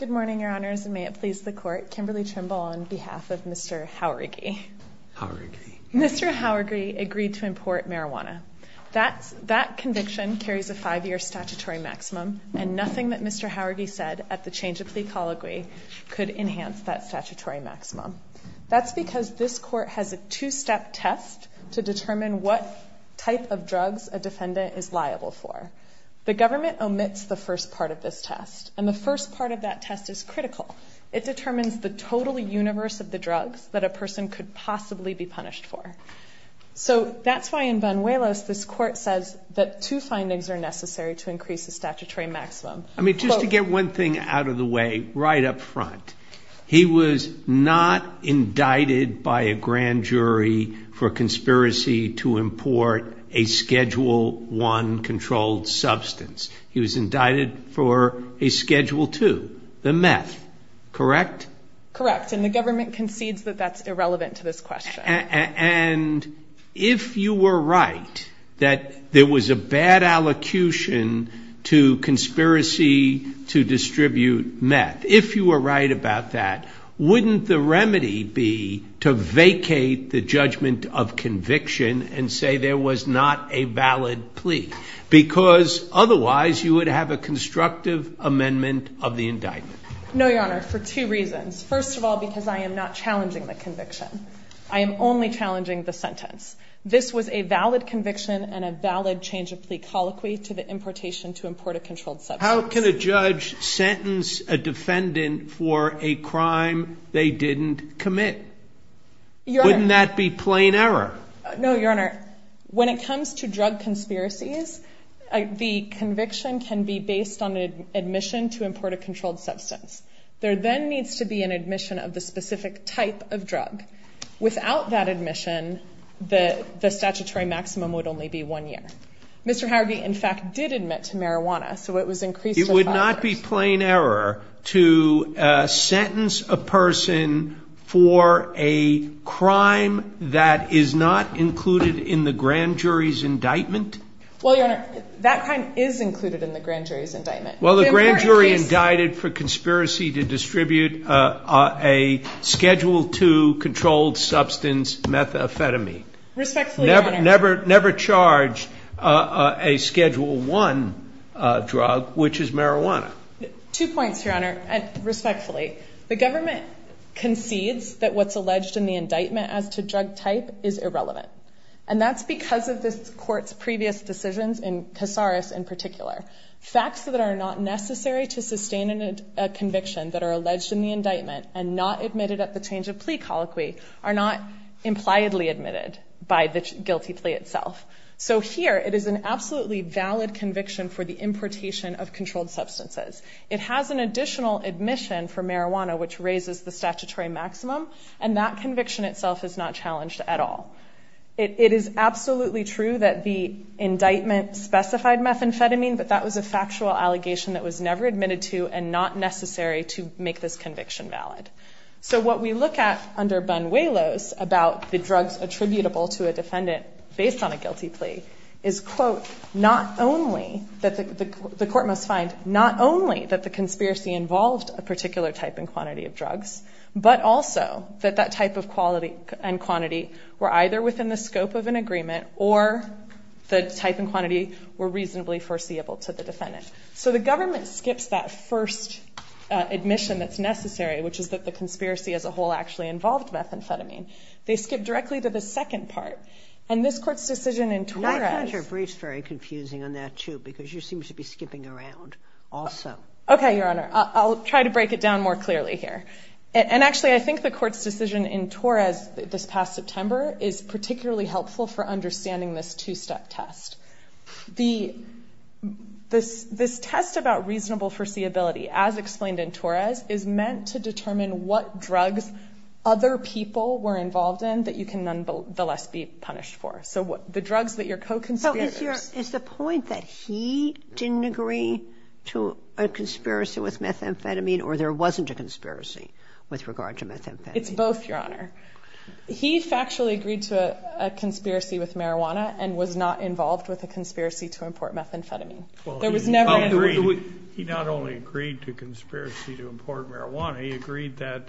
Good morning, Your Honors, and may it please the Court, Kimberly Trimble on behalf of Mr. Jauregui. Mr. Jauregui agreed to import marijuana. That conviction carries a five-year statutory maximum, and nothing that Mr. Jauregui said at the change of plea colloquy could enhance that statutory maximum. That's because this Court has a two-step test to determine what type of drugs a defendant is liable for. The government omits the first part of this test, and the first part of that test is critical. It determines the total universe of the drugs that a person could possibly be punished for. So that's why in Vanuelos this Court says that two findings are necessary to increase the statutory maximum. I mean, just to get one thing out of the way right up front, he was not indicted by a grand jury for conspiracy to import a Schedule I controlled substance. He was indicted for a Schedule II, the meth, correct? Correct, and the government concedes that that's irrelevant to this question. And if you were right that there was a bad allocution to conspiracy to distribute meth, if you were right about that, wouldn't the remedy be to vacate the judgment of conviction and say there was not a valid plea? Because otherwise you would have a constructive amendment of the indictment. No, Your Honor, for two reasons. First of all, because I am not challenging the conviction. I am only challenging the sentence. This was a valid conviction and a valid change of plea colloquy to the importation to import a controlled substance. How can a judge sentence a defendant for a crime they didn't commit? Wouldn't that be plain error? No, Your Honor, when it comes to drug conspiracies, the conviction can be based on an admission to import a controlled substance. There then needs to be an admission of the specific type of drug. Without that admission, the statutory maximum would only be one year. Mr. Howardy, in fact, did admit to marijuana, so it was increased to five years. It would not be plain error to sentence a person for a crime that is not included in the grand jury's indictment? Well, Your Honor, that crime is included in the grand jury's indictment. Well, the grand jury indicted for conspiracy to distribute a Schedule II controlled substance, methamphetamine. Respectfully, Your Honor. They never charged a Schedule I drug, which is marijuana. Two points, Your Honor. Respectfully, the government concedes that what's alleged in the indictment as to drug type is irrelevant, and that's because of this Court's previous decisions in Casares in particular. Facts that are not necessary to sustain a conviction that are alleged in the indictment and not admitted at the change of plea colloquy are not impliedly admitted by the guilty plea itself. So here it is an absolutely valid conviction for the importation of controlled substances. It has an additional admission for marijuana, which raises the statutory maximum, and that conviction itself is not challenged at all. It is absolutely true that the indictment specified methamphetamine, but that was a factual allegation that was never admitted to and not necessary to make this conviction valid. So what we look at under Bun-Whalo's about the drugs attributable to a defendant based on a guilty plea is, quote, not only that the court must find not only that the conspiracy involved a particular type and quantity of drugs, but also that that type and quantity were either within the scope of an agreement or the type and quantity were reasonably foreseeable to the defendant. So the government skips that first admission that's necessary, which is that the conspiracy as a whole actually involved methamphetamine. They skip directly to the second part, and this Court's decision in Torres. Your brief's very confusing on that, too, because you seem to be skipping around also. Okay, Your Honor, I'll try to break it down more clearly here. And actually, I think the Court's decision in Torres this past September is particularly helpful for understanding this two-step test. This test about reasonable foreseeability, as explained in Torres, is meant to determine what drugs other people were involved in that you can nonetheless be punished for. So the drugs that your co-conspirators. Is the point that he didn't agree to a conspiracy with methamphetamine or there wasn't a conspiracy with regard to methamphetamine? It's both, Your Honor. He factually agreed to a conspiracy with marijuana and was not involved with a conspiracy to import methamphetamine. There was never an agreement. He not only agreed to a conspiracy to import marijuana, he agreed that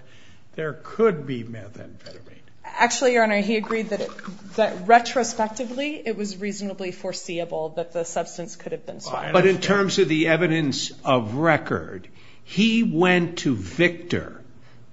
there could be methamphetamine. Actually, Your Honor, he agreed that retrospectively, it was reasonably foreseeable that the substance could have been swallowed. But in terms of the evidence of record, he went to Victor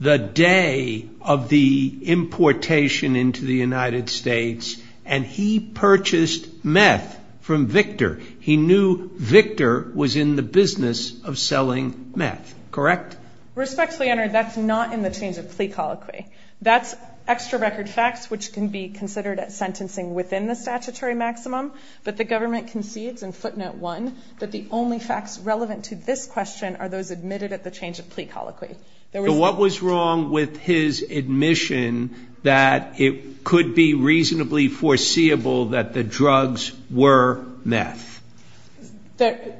the day of the importation into the United States, and he purchased meth from Victor. He knew Victor was in the business of selling meth. Correct? Respectfully, Your Honor, that's not in the terms of plea colloquy. That's extra record facts which can be considered as sentencing within the statutory maximum, but the government concedes in footnote one that the only facts relevant to this question are those admitted at the change of plea colloquy. So what was wrong with his admission that it could be reasonably foreseeable that the drugs were meth? There's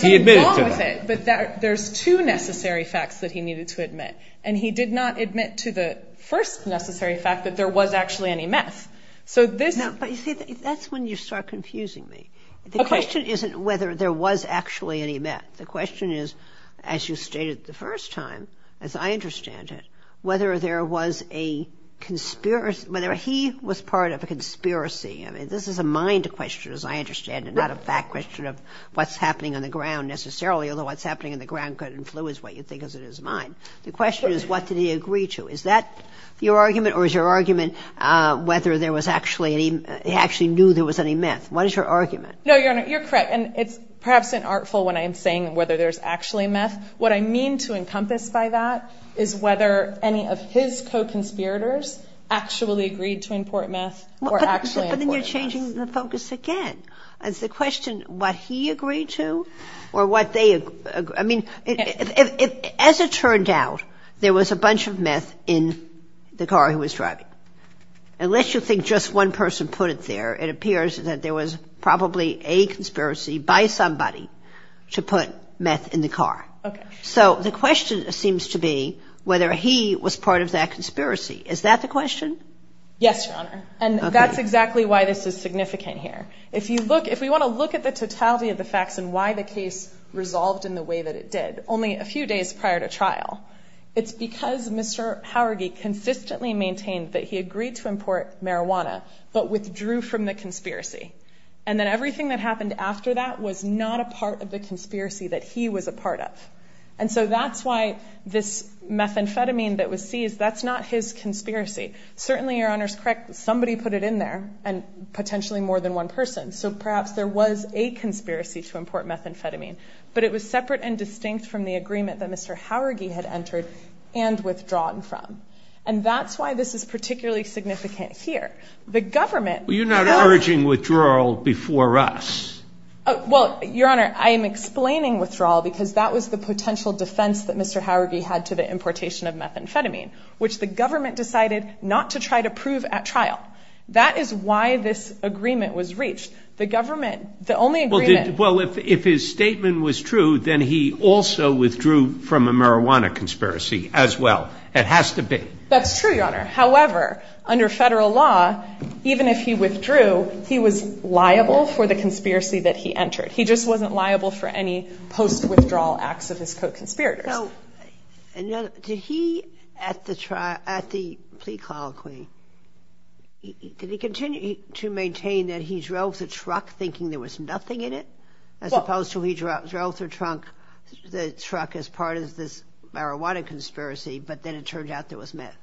something wrong with it, but there's two necessary facts that he needed to admit, and he did not admit to the first necessary fact that there was actually any meth. But, you see, that's when you start confusing me. The question isn't whether there was actually any meth. The question is, as you stated the first time, as I understand it, whether there was a conspiracy, whether he was part of a conspiracy. I mean, this is a mind question, as I understand it, not a fact question of what's happening on the ground necessarily, although what's happening on the ground could influence what you think is in his mind. The question is, what did he agree to? Is that your argument, or is your argument whether there was actually any ‑‑ he actually knew there was any meth? What is your argument? No, Your Honor, you're correct. And it's perhaps unartful when I'm saying whether there's actually meth. What I mean to encompass by that is whether any of his co‑conspirators actually agreed to import meth or actually imported meth. But then you're changing the focus again. Is the question what he agreed to or what they ‑‑ I mean, as it turned out, there was a bunch of meth in the car he was driving. Unless you think just one person put it there, it appears that there was probably a conspiracy by somebody to put meth in the car. Okay. So the question seems to be whether he was part of that conspiracy. Is that the question? Yes, Your Honor. Okay. And that's exactly why this is significant here. If you look ‑‑ if we want to look at the totality of the facts and why the case resolved in the way that it did, only a few days prior to trial, it's because Mr. Howergy consistently maintained that he agreed to import marijuana but withdrew from the conspiracy. And then everything that happened after that was not a part of the conspiracy that he was a part of. And so that's why this methamphetamine that was seized, that's not his conspiracy. Certainly, Your Honor is correct. Somebody put it in there and potentially more than one person. So perhaps there was a conspiracy to import methamphetamine, but it was separate and distinct from the agreement that Mr. Howergy had entered and withdrawn from. And that's why this is particularly significant here. The government ‑‑ Well, you're not urging withdrawal before us. Well, Your Honor, I am explaining withdrawal because that was the potential defense that Mr. Howergy had to the importation of methamphetamine, which the government decided not to try to prove at trial. That is why this agreement was reached. The government ‑‑ Well, if his statement was true, then he also withdrew from a marijuana conspiracy as well. It has to be. That's true, Your Honor. However, under federal law, even if he withdrew, he was liable for the conspiracy that he entered. He just wasn't liable for any post‑withdrawal acts of his co‑conspirators. So did he, at the plea colloquy, did he continue to maintain that he drove the truck thinking there was nothing in it, as opposed to he drove the truck as part of this marijuana conspiracy, but then it turned out there was meth?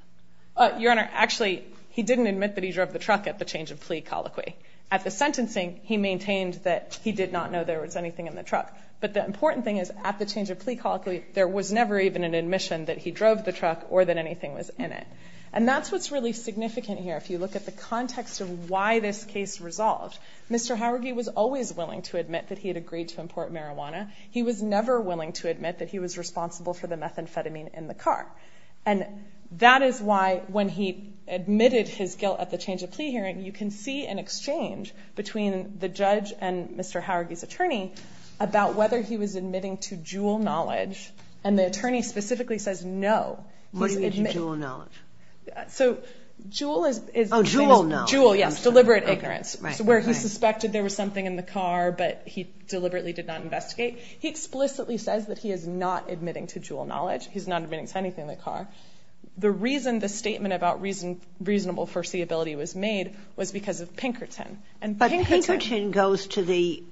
Your Honor, actually, he didn't admit that he drove the truck at the change of plea colloquy. At the sentencing, he maintained that he did not know there was anything in the truck. But the important thing is at the change of plea colloquy, there was never even an admission that he drove the truck or that anything was in it. And that's what's really significant here. If you look at the context of why this case resolved, Mr. Howergy was always willing to admit that he had agreed to import marijuana. He was never willing to admit that he was responsible for the methamphetamine in the car. And that is why when he admitted his guilt at the change of plea hearing, about whether he was admitting to Juul knowledge, and the attorney specifically says no. What do you mean, to Juul knowledge? So Juul is deliberate ignorance, where he suspected there was something in the car, but he deliberately did not investigate. He explicitly says that he is not admitting to Juul knowledge. He's not admitting to anything in the car. The reason the statement about reasonable foreseeability was made was because of Pinkerton. But Pinkerton goes to the,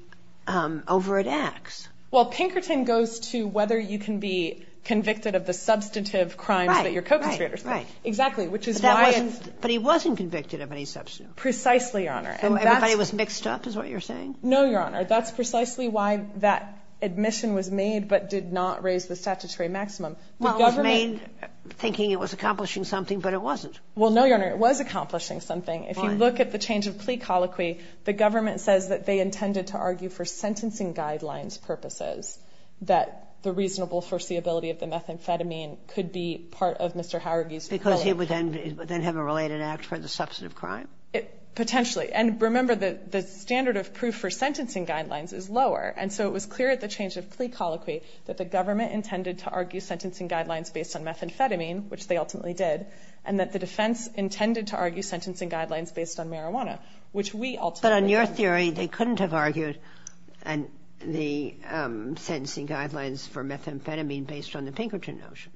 over at Axe. Well, Pinkerton goes to whether you can be convicted of the substantive crimes that your co-conspirators did. Right, right, right. Exactly, which is why it's. But he wasn't convicted of any substantive. Precisely, Your Honor. So everybody was mixed up, is what you're saying? No, Your Honor. That's precisely why that admission was made, but did not raise the statutory maximum. Well, it was made thinking it was accomplishing something, but it wasn't. Well, no, Your Honor. It was accomplishing something. Fine. If you look at the change of plea colloquy, the government says that they intended to argue for sentencing guidelines purposes, that the reasonable foreseeability of the methamphetamine could be part of Mr. Howard's. Because he would then have a related act for the substantive crime. Potentially. And remember, the standard of proof for sentencing guidelines is lower, and so it was clear at the change of plea colloquy that the government intended to argue sentencing guidelines based on marijuana, which we ultimately didn't. But on your theory, they couldn't have argued the sentencing guidelines for methamphetamine based on the Pinkerton notion.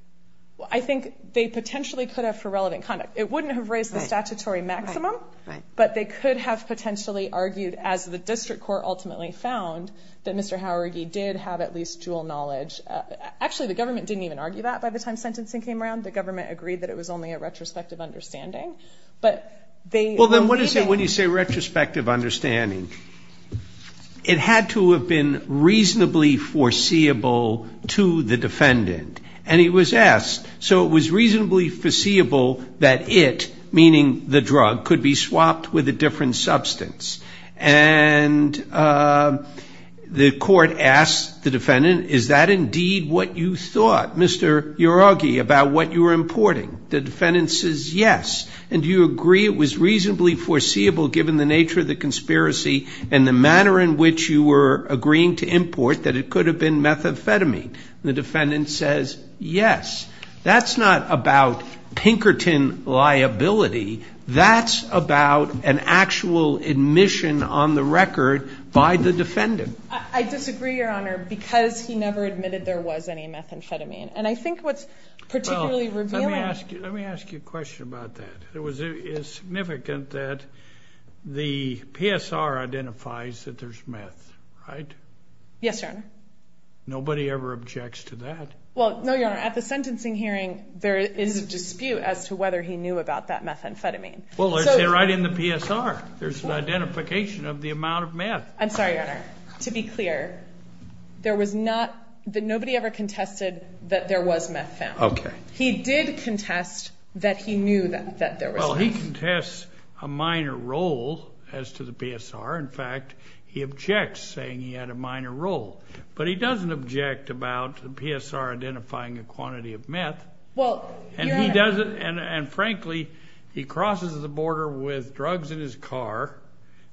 I think they potentially could have for relevant conduct. It wouldn't have raised the statutory maximum, but they could have potentially argued, as the district court ultimately found, that Mr. Howard, he did have at least dual knowledge. Actually, the government didn't even argue that by the time sentencing came around. The government agreed that it was only a retrospective understanding. Well, then what do you say retrospective understanding? It had to have been reasonably foreseeable to the defendant. And it was asked. So it was reasonably foreseeable that it, meaning the drug, could be swapped with a different substance. And the court asked the defendant, is that indeed what you thought, Mr. Howard, that you were importing? The defendant says yes. And do you agree it was reasonably foreseeable, given the nature of the conspiracy and the manner in which you were agreeing to import, that it could have been methamphetamine? And the defendant says yes. That's not about Pinkerton liability. That's about an actual admission on the record by the defendant. I disagree, Your Honor, because he never admitted there was any methamphetamine. And I think what's particularly revealing. Well, let me ask you a question about that. It is significant that the PSR identifies that there's meth, right? Yes, Your Honor. Nobody ever objects to that. Well, no, Your Honor. At the sentencing hearing, there is a dispute as to whether he knew about that methamphetamine. Well, it's right in the PSR. There's an identification of the amount of meth. I'm sorry, Your Honor. To be clear, nobody ever contested that there was meth found. Okay. He did contest that he knew that there was meth. Well, he contests a minor role as to the PSR. In fact, he objects, saying he had a minor role. But he doesn't object about the PSR identifying a quantity of meth. Well, Your Honor. And frankly, he crosses the border with drugs in his car.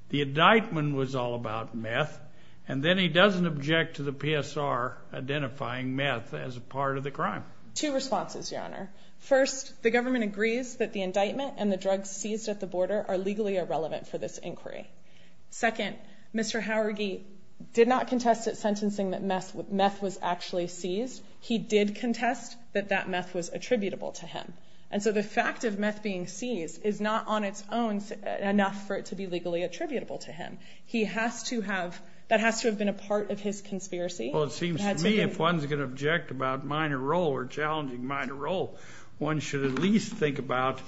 The indictment was all about meth, and then he doesn't object to the PSR identifying meth as a part of the crime. Two responses, Your Honor. First, the government agrees that the indictment and the drugs seized at the border are legally irrelevant for this inquiry. Second, Mr. Howardy did not contest at sentencing that meth was actually seized. He did contest that that meth was attributable to him. And so the fact of meth being seized is not on its own enough for it to be legally attributable to him. He has to have, that has to have been a part of his conspiracy. Well, it seems to me if one's going to object about minor role or challenging minor role, one should at least think about,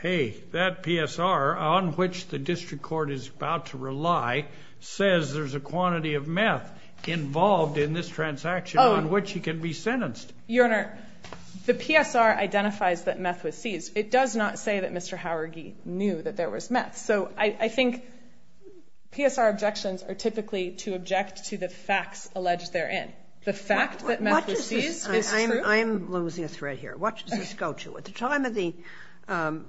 hey, that PSR on which the district court is about to rely says there's a quantity of meth involved in this transaction on which he can be sentenced. Your Honor, the PSR identifies that meth was seized. It does not say that Mr. Howardy knew that there was meth. So I think PSR objections are typically to object to the facts alleged therein. The fact that meth was seized is true. I'm losing a thread here. What does this go to? At the time of the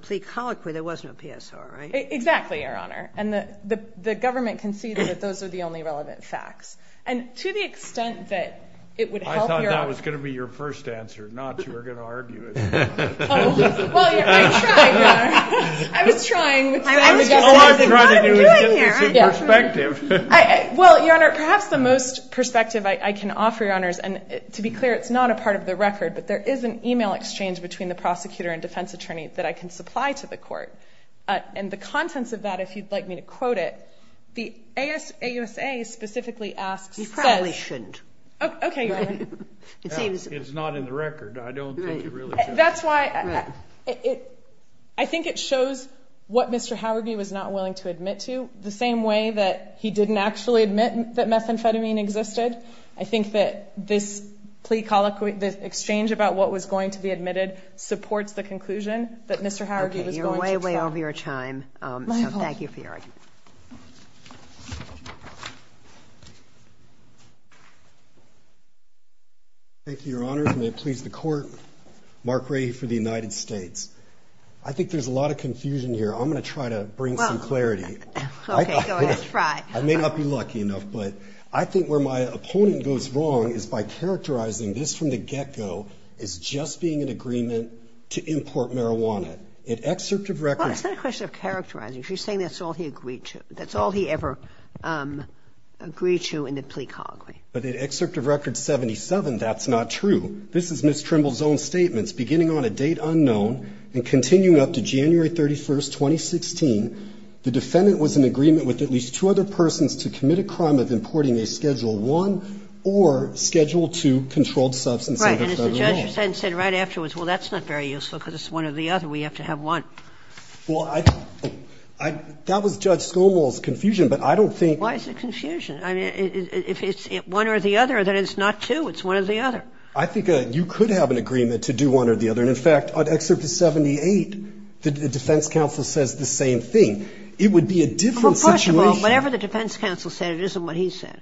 plea colloquy, there was no PSR, right? Exactly, Your Honor. And the government conceded that those are the only relevant facts. And to the extent that it would help your… That was your first answer, not you were going to argue it. Well, I tried, Your Honor. I was trying. All I was trying to do was get you some perspective. Well, Your Honor, perhaps the most perspective I can offer, Your Honors, and to be clear, it's not a part of the record, but there is an email exchange between the prosecutor and defense attorney that I can supply to the court. And the contents of that, if you'd like me to quote it, the AUSA specifically asks… You probably shouldn't. Okay, Your Honor. It's not in the record. I don't think you really should. That's why I think it shows what Mr. Howardy was not willing to admit to, the same way that he didn't actually admit that methamphetamine existed. I think that this plea colloquy, the exchange about what was going to be admitted supports the conclusion that Mr. Howardy was going to tell. Okay, you're way, way over your time. My apologies. So thank you for your argument. Thank you, Your Honor, and may it please the court. Mark Ray for the United States. I think there's a lot of confusion here. I'm going to try to bring some clarity. Okay, go ahead. Try. I may not be lucky enough, but I think where my opponent goes wrong is by characterizing this from the get-go as just being an agreement to import marijuana. It excerpt of records… Well, it's not a question of characterizing. She's saying that's all he agreed to. That's all he ever agreed to in the plea colloquy. But in excerpt of record 77, that's not true. This is Ms. Trimble's own statements. Beginning on a date unknown and continuing up to January 31, 2016, the defendant was in agreement with at least two other persons to commit a crime of importing a Schedule I or Schedule II controlled substance under Federal law. Right. And as the judge said right afterwards, well, that's not very useful because it's one or the other. We have to have one. Well, that was Judge Schoenwald's confusion, but I don't think… Why is it confusion? I mean, if it's one or the other, then it's not two. It's one or the other. I think you could have an agreement to do one or the other. And, in fact, on excerpt of 78, the defense counsel says the same thing. It would be a different situation. Well, first of all, whatever the defense counsel said, it isn't what he said.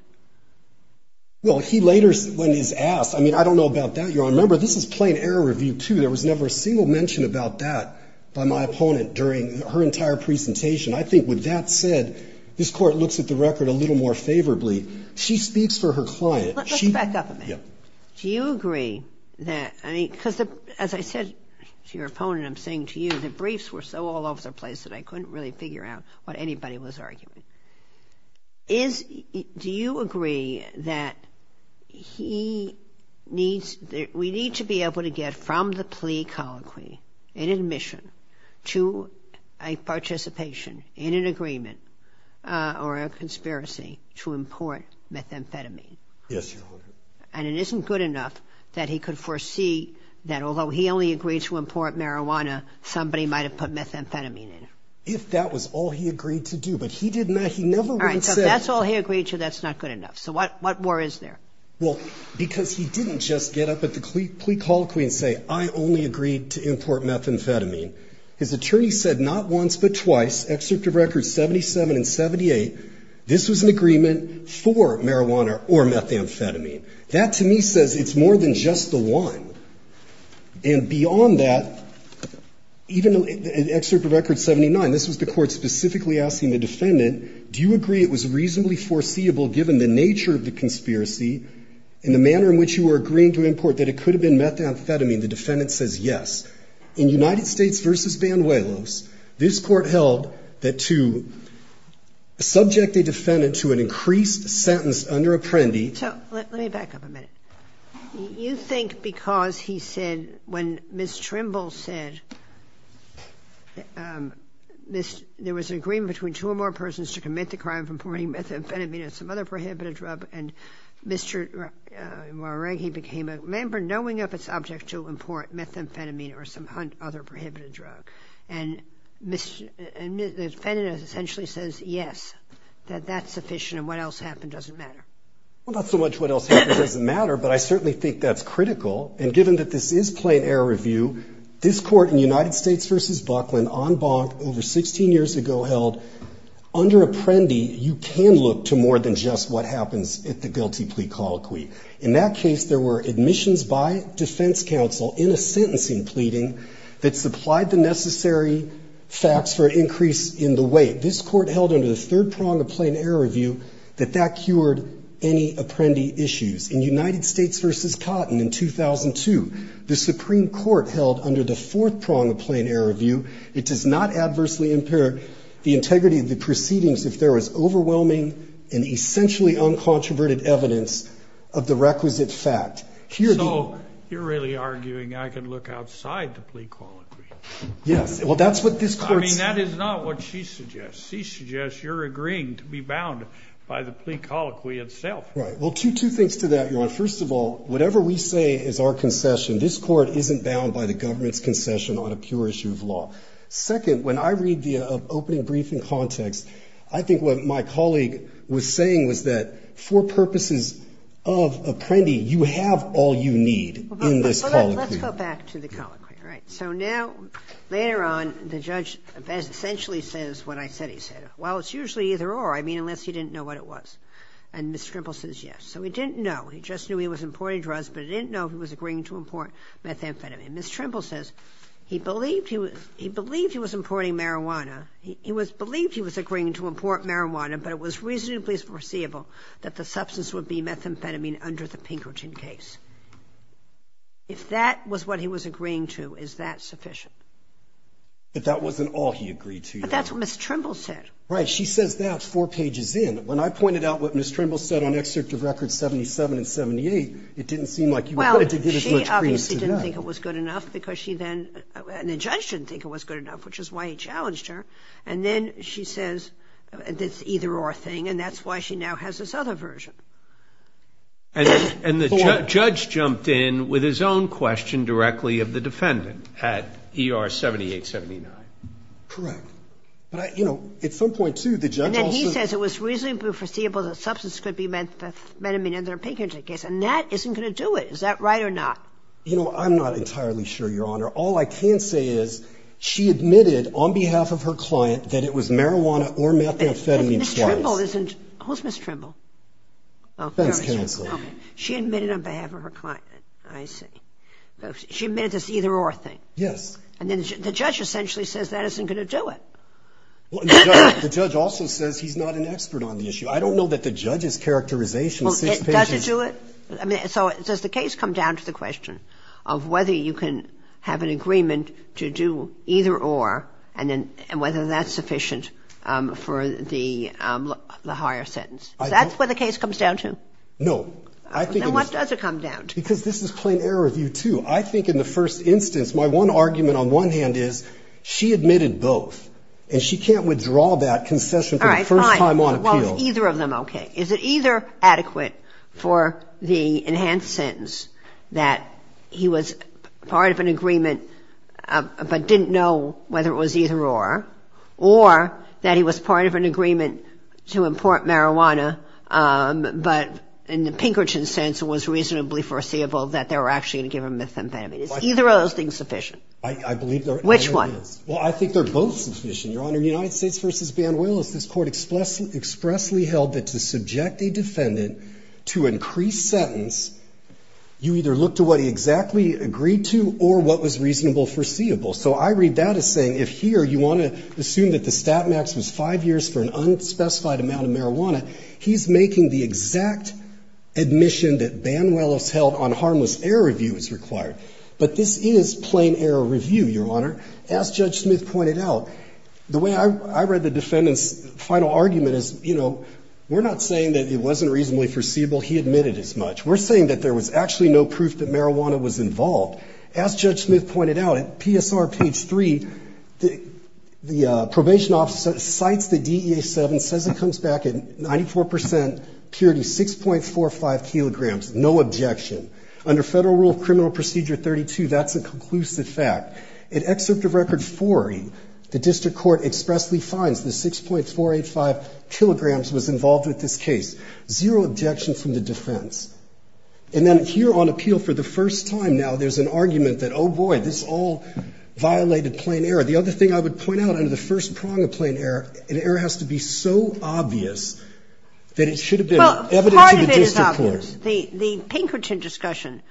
Well, he later, when he's asked, I mean, I don't know about that, Your Honor. Remember, this is plain error review, too. There was never a single mention about that by my opponent during her entire presentation. I think with that said, this Court looks at the record a little more favorably. She speaks for her client. Let's back up a minute. Yeah. Do you agree that, I mean, because, as I said to your opponent, I'm saying to you, the briefs were so all over the place that I couldn't really figure out what anybody was arguing. Is – do you agree that he needs – we need to be able to get from the plea colloquy in admission to a participation in an agreement or a conspiracy to import methamphetamine? Yes, Your Honor. And it isn't good enough that he could foresee that, although he only agreed to import marijuana, somebody might have put methamphetamine in it. If that was all he agreed to do, but he did not – he never would have said it. All right. So if that's all he agreed to, that's not good enough. So what war is there? Well, because he didn't just get up at the plea colloquy and say, I only agreed to import methamphetamine. His attorney said not once but twice, excerpt of records 77 and 78, this was an agreement for marijuana or methamphetamine. That, to me, says it's more than just the one. And beyond that, even in excerpt of record 79, this was the court specifically asking the defendant, do you agree it was reasonably foreseeable given the nature of the conspiracy and the manner in which you were agreeing to import that it could have been methamphetamine? The defendant says yes. In United States v. Banuelos, this Court held that to subject a defendant to an increased sentence under Apprendi. So let me back up a minute. You think because he said, when Ms. Trimble said there was an agreement between two or more persons to commit the crime of importing methamphetamine and some other prohibited drug, Mr. Wawrighi became a member knowing of its object to import methamphetamine or some other prohibited drug. And the defendant essentially says yes, that that's sufficient and what else happened doesn't matter. Well, not so much what else happened doesn't matter, but I certainly think that's critical. And given that this is plain error review, this Court in United States v. Buckland en banc over 16 years ago held under Apprendi you can look to more than just what happens at the guilty plea colloquy. In that case, there were admissions by defense counsel in a sentencing pleading that supplied the necessary facts for increase in the weight. This Court held under the third prong of plain error review that that cured any Apprendi issues. In United States v. Cotton in 2002, the Supreme Court held under the fourth prong of it does not adversely impair the integrity of the proceedings if there is overwhelming and essentially uncontroverted evidence of the requisite fact. So you're really arguing I can look outside the plea colloquy? Yes. Well, that's what this Court says. I mean, that is not what she suggests. She suggests you're agreeing to be bound by the plea colloquy itself. Right. Well, two things to that, Your Honor. First of all, whatever we say is our concession, this Court isn't bound by the Second, when I read the opening briefing context, I think what my colleague was saying was that for purposes of Apprendi, you have all you need in this colloquy. Let's go back to the colloquy. All right. So now, later on, the judge essentially says what I said he said. Well, it's usually either or, I mean, unless you didn't know what it was. And Ms. Trimble says yes. So he didn't know. He just knew he was importing drugs, but he didn't know he was agreeing to import methamphetamine. And Ms. Trimble says he believed he was importing marijuana. He believed he was agreeing to import marijuana, but it was reasonably foreseeable that the substance would be methamphetamine under the Pinkerton case. If that was what he was agreeing to, is that sufficient? But that wasn't all he agreed to, Your Honor. But that's what Ms. Trimble said. Right. She says that four pages in. When I pointed out what Ms. Trimble said on Excerpt of Records 77 and 78, it didn't seem like you wanted to give as much credence to that. She obviously didn't think it was good enough because she then – and the judge didn't think it was good enough, which is why he challenged her. And then she says it's either or thing, and that's why she now has this other version. And the judge jumped in with his own question directly of the defendant at ER 7879. Correct. But, you know, at some point, too, the judge also – And then he says it was reasonably foreseeable that the substance could be methamphetamine under the Pinkerton case. And that isn't going to do it. Is that right or not? You know, I'm not entirely sure, Your Honor. All I can say is she admitted on behalf of her client that it was marijuana or methamphetamine twice. Ms. Trimble isn't – who's Ms. Trimble? Oh, there she is. Defense counsel. Okay. She admitted on behalf of her client. I see. She admitted it's either or thing. Yes. And then the judge essentially says that isn't going to do it. Well, the judge also says he's not an expert on the issue. I don't know that the judge's characterization six pages – Well, does it do it? So does the case come down to the question of whether you can have an agreement to do either or and whether that's sufficient for the higher sentence? Is that what the case comes down to? No. Then what does it come down to? Because this is plain error of you, too. I think in the first instance, my one argument on one hand is she admitted both, and she can't withdraw that concession for the first time on appeal. All right. Fine. Well, is either of them okay? Is it either adequate for the enhanced sentence that he was part of an agreement but didn't know whether it was either or, or that he was part of an agreement to import marijuana but in the Pinkerton sense was reasonably foreseeable that they were actually going to give him methamphetamine? Is either of those things sufficient? I believe they're – Which one? Well, I think they're both sufficient, Your Honor. In United States v. Banuelos, this Court expressly held that to subject a defendant to increased sentence, you either look to what he exactly agreed to or what was reasonable foreseeable. So I read that as saying if here you want to assume that the stat max was five years for an unspecified amount of marijuana, he's making the exact admission that Banuelos held on harmless error review is required. But this is plain error review, Your Honor. As Judge Smith pointed out, the way I read the defendant's final argument is, you know, we're not saying that it wasn't reasonably foreseeable, he admitted as much. We're saying that there was actually no proof that marijuana was involved. As Judge Smith pointed out, at PSR page 3, the probation officer cites the DEA-7, says it comes back at 94 percent purity, 6.45 kilograms, no objection. Under Federal Rule of Criminal Procedure 32, that's a conclusive fact. In Excerpt of Record 40, the district court expressly finds the 6.485 kilograms was involved with this case. Zero objection from the defense. And then here on appeal for the first time now, there's an argument that, oh, boy, this all violated plain error. The other thing I would point out under the first prong of plain error, an error has to be so obvious that it should have been evident to the district court. The Pinkerton discussion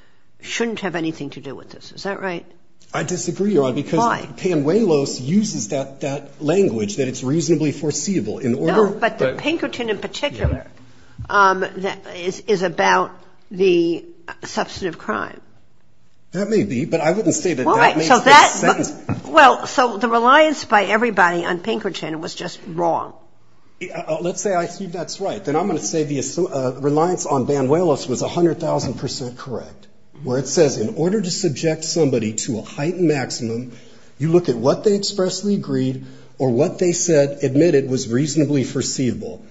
shouldn't have anything to do with this. Is that right? I disagree, Your Honor. Why? Because Panuelos uses that language that it's reasonably foreseeable. No, but the Pinkerton in particular is about the substantive crime. That may be, but I wouldn't say that that makes sense. Well, so the reliance by everybody on Pinkerton was just wrong. Let's say I think that's right. Then I'm going to say the reliance on Panuelos was 100,000 percent correct, where it says in order to subject somebody to a heightened maximum, you look at what they expressly agreed or what they said admitted was reasonably foreseeable.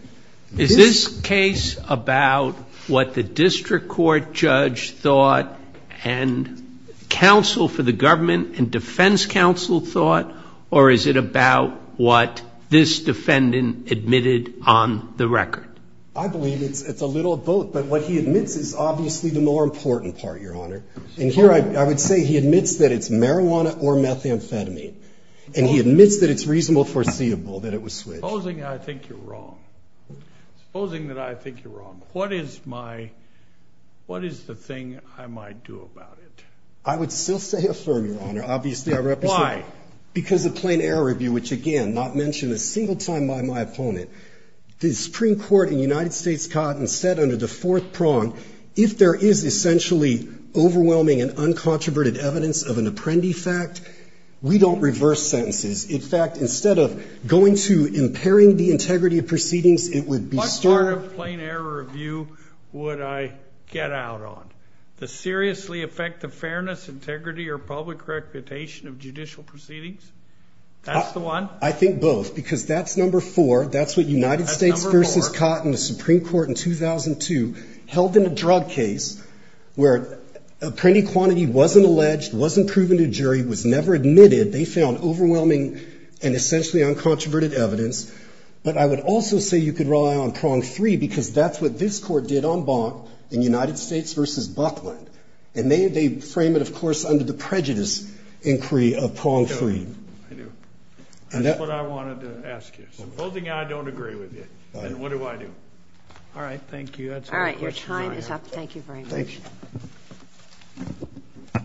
Is this case about what the district court judge thought and counsel for the government and defense counsel thought, or is it about what this defendant admitted on the record? I believe it's a little of both. But what he admits is obviously the more important part, Your Honor. And here I would say he admits that it's marijuana or methamphetamine. And he admits that it's reasonable foreseeable that it was switched. Supposing I think you're wrong. Supposing that I think you're wrong. What is my, what is the thing I might do about it? I would still say affirm, Your Honor. Obviously, I represent. Why? Because of plain error review, which, again, not mentioned a single time by my opponent. The Supreme Court in the United States caught and said under the fourth prong, if there is essentially overwhelming and uncontroverted evidence of an apprendee fact, we don't reverse sentences. In fact, instead of going to impairing the integrity of proceedings, it would be What part of plain error review would I get out on? The seriously affect the fairness, integrity, or public reputation of judicial proceedings? That's the one. I think both. Because that's number four. That's what United States versus Cotton, the Supreme Court in 2002, held in a drug case where an apprentice quantity wasn't alleged, wasn't proven to a jury, was never admitted. They found overwhelming and essentially uncontroverted evidence. But I would also say you could rely on prong three, because that's what this Court did on Bonk in United States versus Buckland. And they frame it, of course, under the prejudice inquiry of prong three. And that's what I wanted to ask you. Supposing I don't agree with you, then what do I do? All right. Thank you. That's all the questions I have. All right. Your time is up. Thank you very much. Thank you.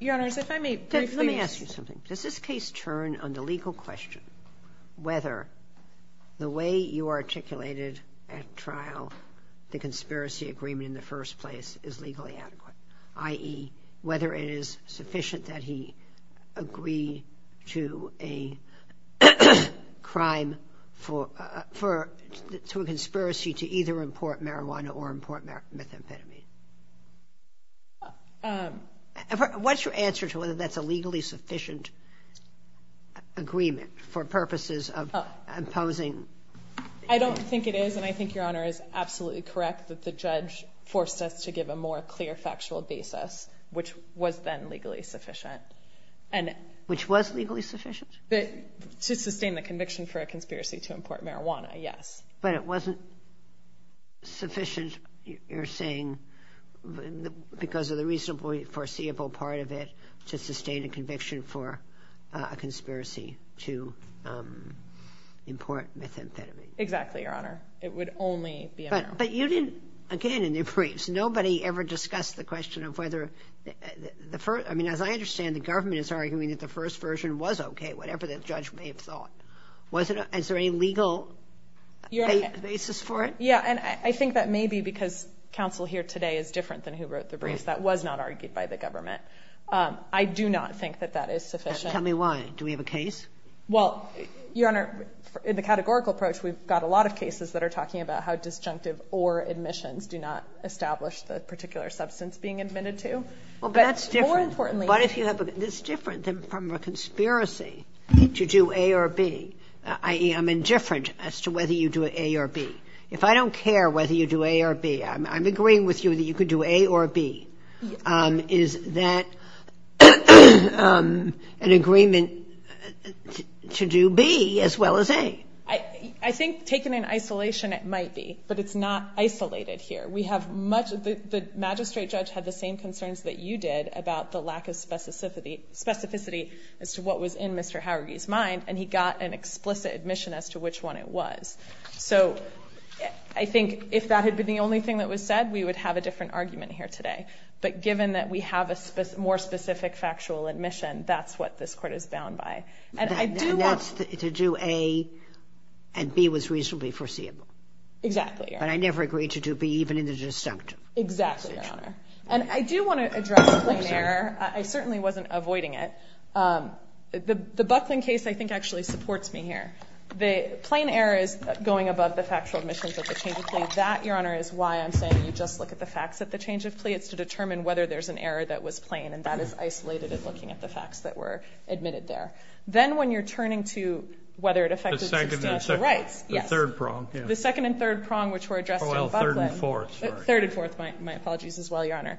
Your Honors, if I may briefly ask you something. Does this case turn under legal question whether the way you articulated at trial the conspiracy agreement in the first place is legally adequate, i.e., whether it is sufficient that he agree to a crime for a conspiracy to either import marijuana or import methamphetamine? What's your answer to whether that's a legally sufficient agreement for purposes of imposing? I don't think it is. And I think Your Honor is absolutely correct that the judge forced us to give a more clear factual basis, which was then legally sufficient. Which was legally sufficient? To sustain the conviction for a conspiracy to import marijuana, yes. But it wasn't sufficient, you're saying, because of the reasonably foreseeable part of it, to sustain a conviction for a conspiracy to import methamphetamine? Exactly, Your Honor. It would only be a matter of fact. But you didn't, again, in your briefs, nobody ever discussed the question of whether the first – I mean, as I understand, the government is arguing that the first version was okay, whatever the judge may have thought. Was it – is there a legal basis for it? Yeah, and I think that may be because counsel here today is different than who wrote the briefs. That was not argued by the government. I do not think that that is sufficient. Tell me why. Do we have a case? Well, Your Honor, in the categorical approach, we've got a lot of cases that are talking about how disjunctive or admissions do not establish the particular substance being admitted to. But more importantly – i.e., I'm indifferent as to whether you do A or B. If I don't care whether you do A or B, I'm agreeing with you that you could do A or B. Is that an agreement to do B as well as A? I think, taken in isolation, it might be. But it's not isolated here. We have much – the magistrate judge had the same concerns that you did about the lack of specificity as to what was in Mr. Howergy's mind, and he got an explicit admission as to which one it was. So I think if that had been the only thing that was said, we would have a different argument here today. But given that we have a more specific factual admission, that's what this Court is bound by. And I do want – And that's to do A and B was reasonably foreseeable. Exactly, Your Honor. But I never agreed to do B, even in the disjunctive. Exactly, Your Honor. And I do want to address plain error. I certainly wasn't avoiding it. The Bucklin case, I think, actually supports me here. The plain error is going above the factual admissions at the change of plea. That, Your Honor, is why I'm saying you just look at the facts at the change of plea. It's to determine whether there's an error that was plain, and that is isolated at looking at the facts that were admitted there. Then when you're turning to whether it affected substantial rights. The second and third prong. The second and third prong, which were addressed in Bucklin. Oh, well, third and fourth. Third and fourth, my apologies as well, Your Honor.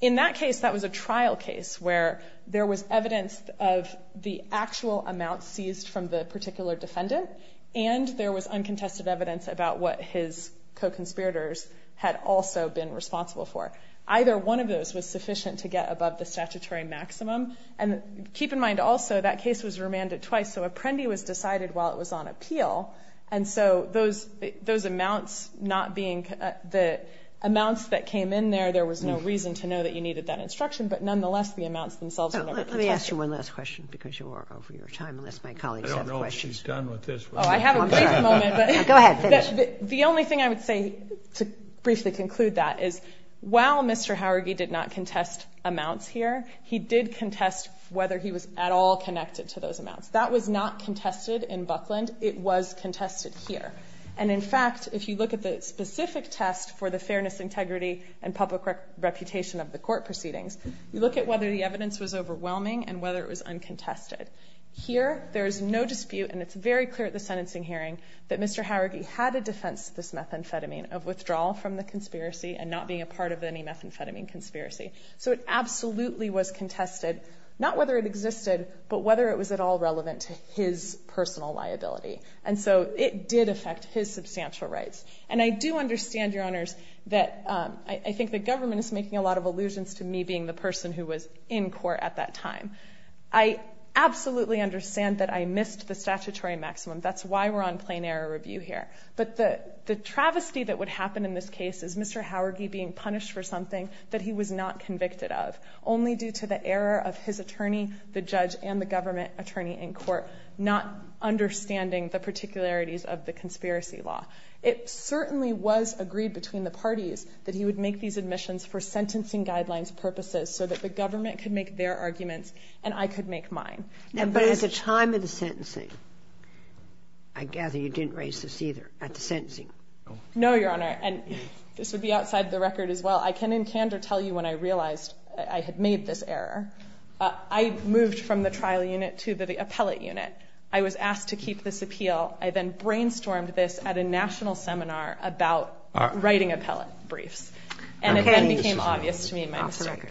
In that case, that was a trial case where there was evidence of the actual amount seized from the particular defendant, and there was uncontested evidence about what his co-conspirators had also been responsible for. Either one of those was sufficient to get above the statutory maximum. And keep in mind, also, that case was remanded twice, so a prende was decided while it was on appeal. And so those amounts not being the amounts that came in there, there was no reason to know that you needed that instruction, but nonetheless the amounts themselves were never contested. Let me ask you one last question because you are over your time unless my colleagues have questions. I don't know what she's done with this. Oh, I have a brief moment. Go ahead. Finish. The only thing I would say to briefly conclude that is while Mr. Howergy did not contest amounts here, he did contest whether he was at all connected to those amounts. That was not contested in Bucklin. It was contested here. And, in fact, if you look at the specific test for the fairness, integrity, and public reputation of the court proceedings, you look at whether the evidence was overwhelming and whether it was uncontested. Here there is no dispute, and it's very clear at the sentencing hearing, that Mr. Howergy had a defense to this methamphetamine of withdrawal from the conspiracy and not being a part of any methamphetamine conspiracy. So it absolutely was contested, not whether it existed, but whether it was at all relevant to his personal liability. And so it did affect his substantial rights. And I do understand, Your Honors, that I think the government is making a lot of allusions to me being the person who was in court at that time. I absolutely understand that I missed the statutory maximum. That's why we're on plain error review here. But the travesty that would happen in this case is Mr. Howergy being punished for something that he was not convicted of, only due to the error of his attorney, the judge, and the government attorney in court not understanding the particularities of the conspiracy law. It certainly was agreed between the parties that he would make these admissions for sentencing guidelines purposes so that the government could make their arguments and I could make mine. But at the time of the sentencing, I gather you didn't raise this either at the sentencing? No, Your Honor. And this would be outside the record as well. I can in candor tell you when I realized I had made this error. I moved from the trial unit to the appellate unit. I was asked to keep this appeal. I then brainstormed this at a national seminar about writing appellate briefs. And it then became obvious to me my mistake.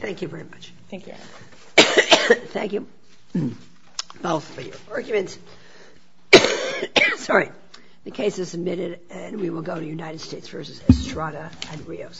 Thank you very much. Thank you, Your Honor. Thank you both for your arguments. Sorry. The case is submitted and we will go to United States v. Estrada and Rios.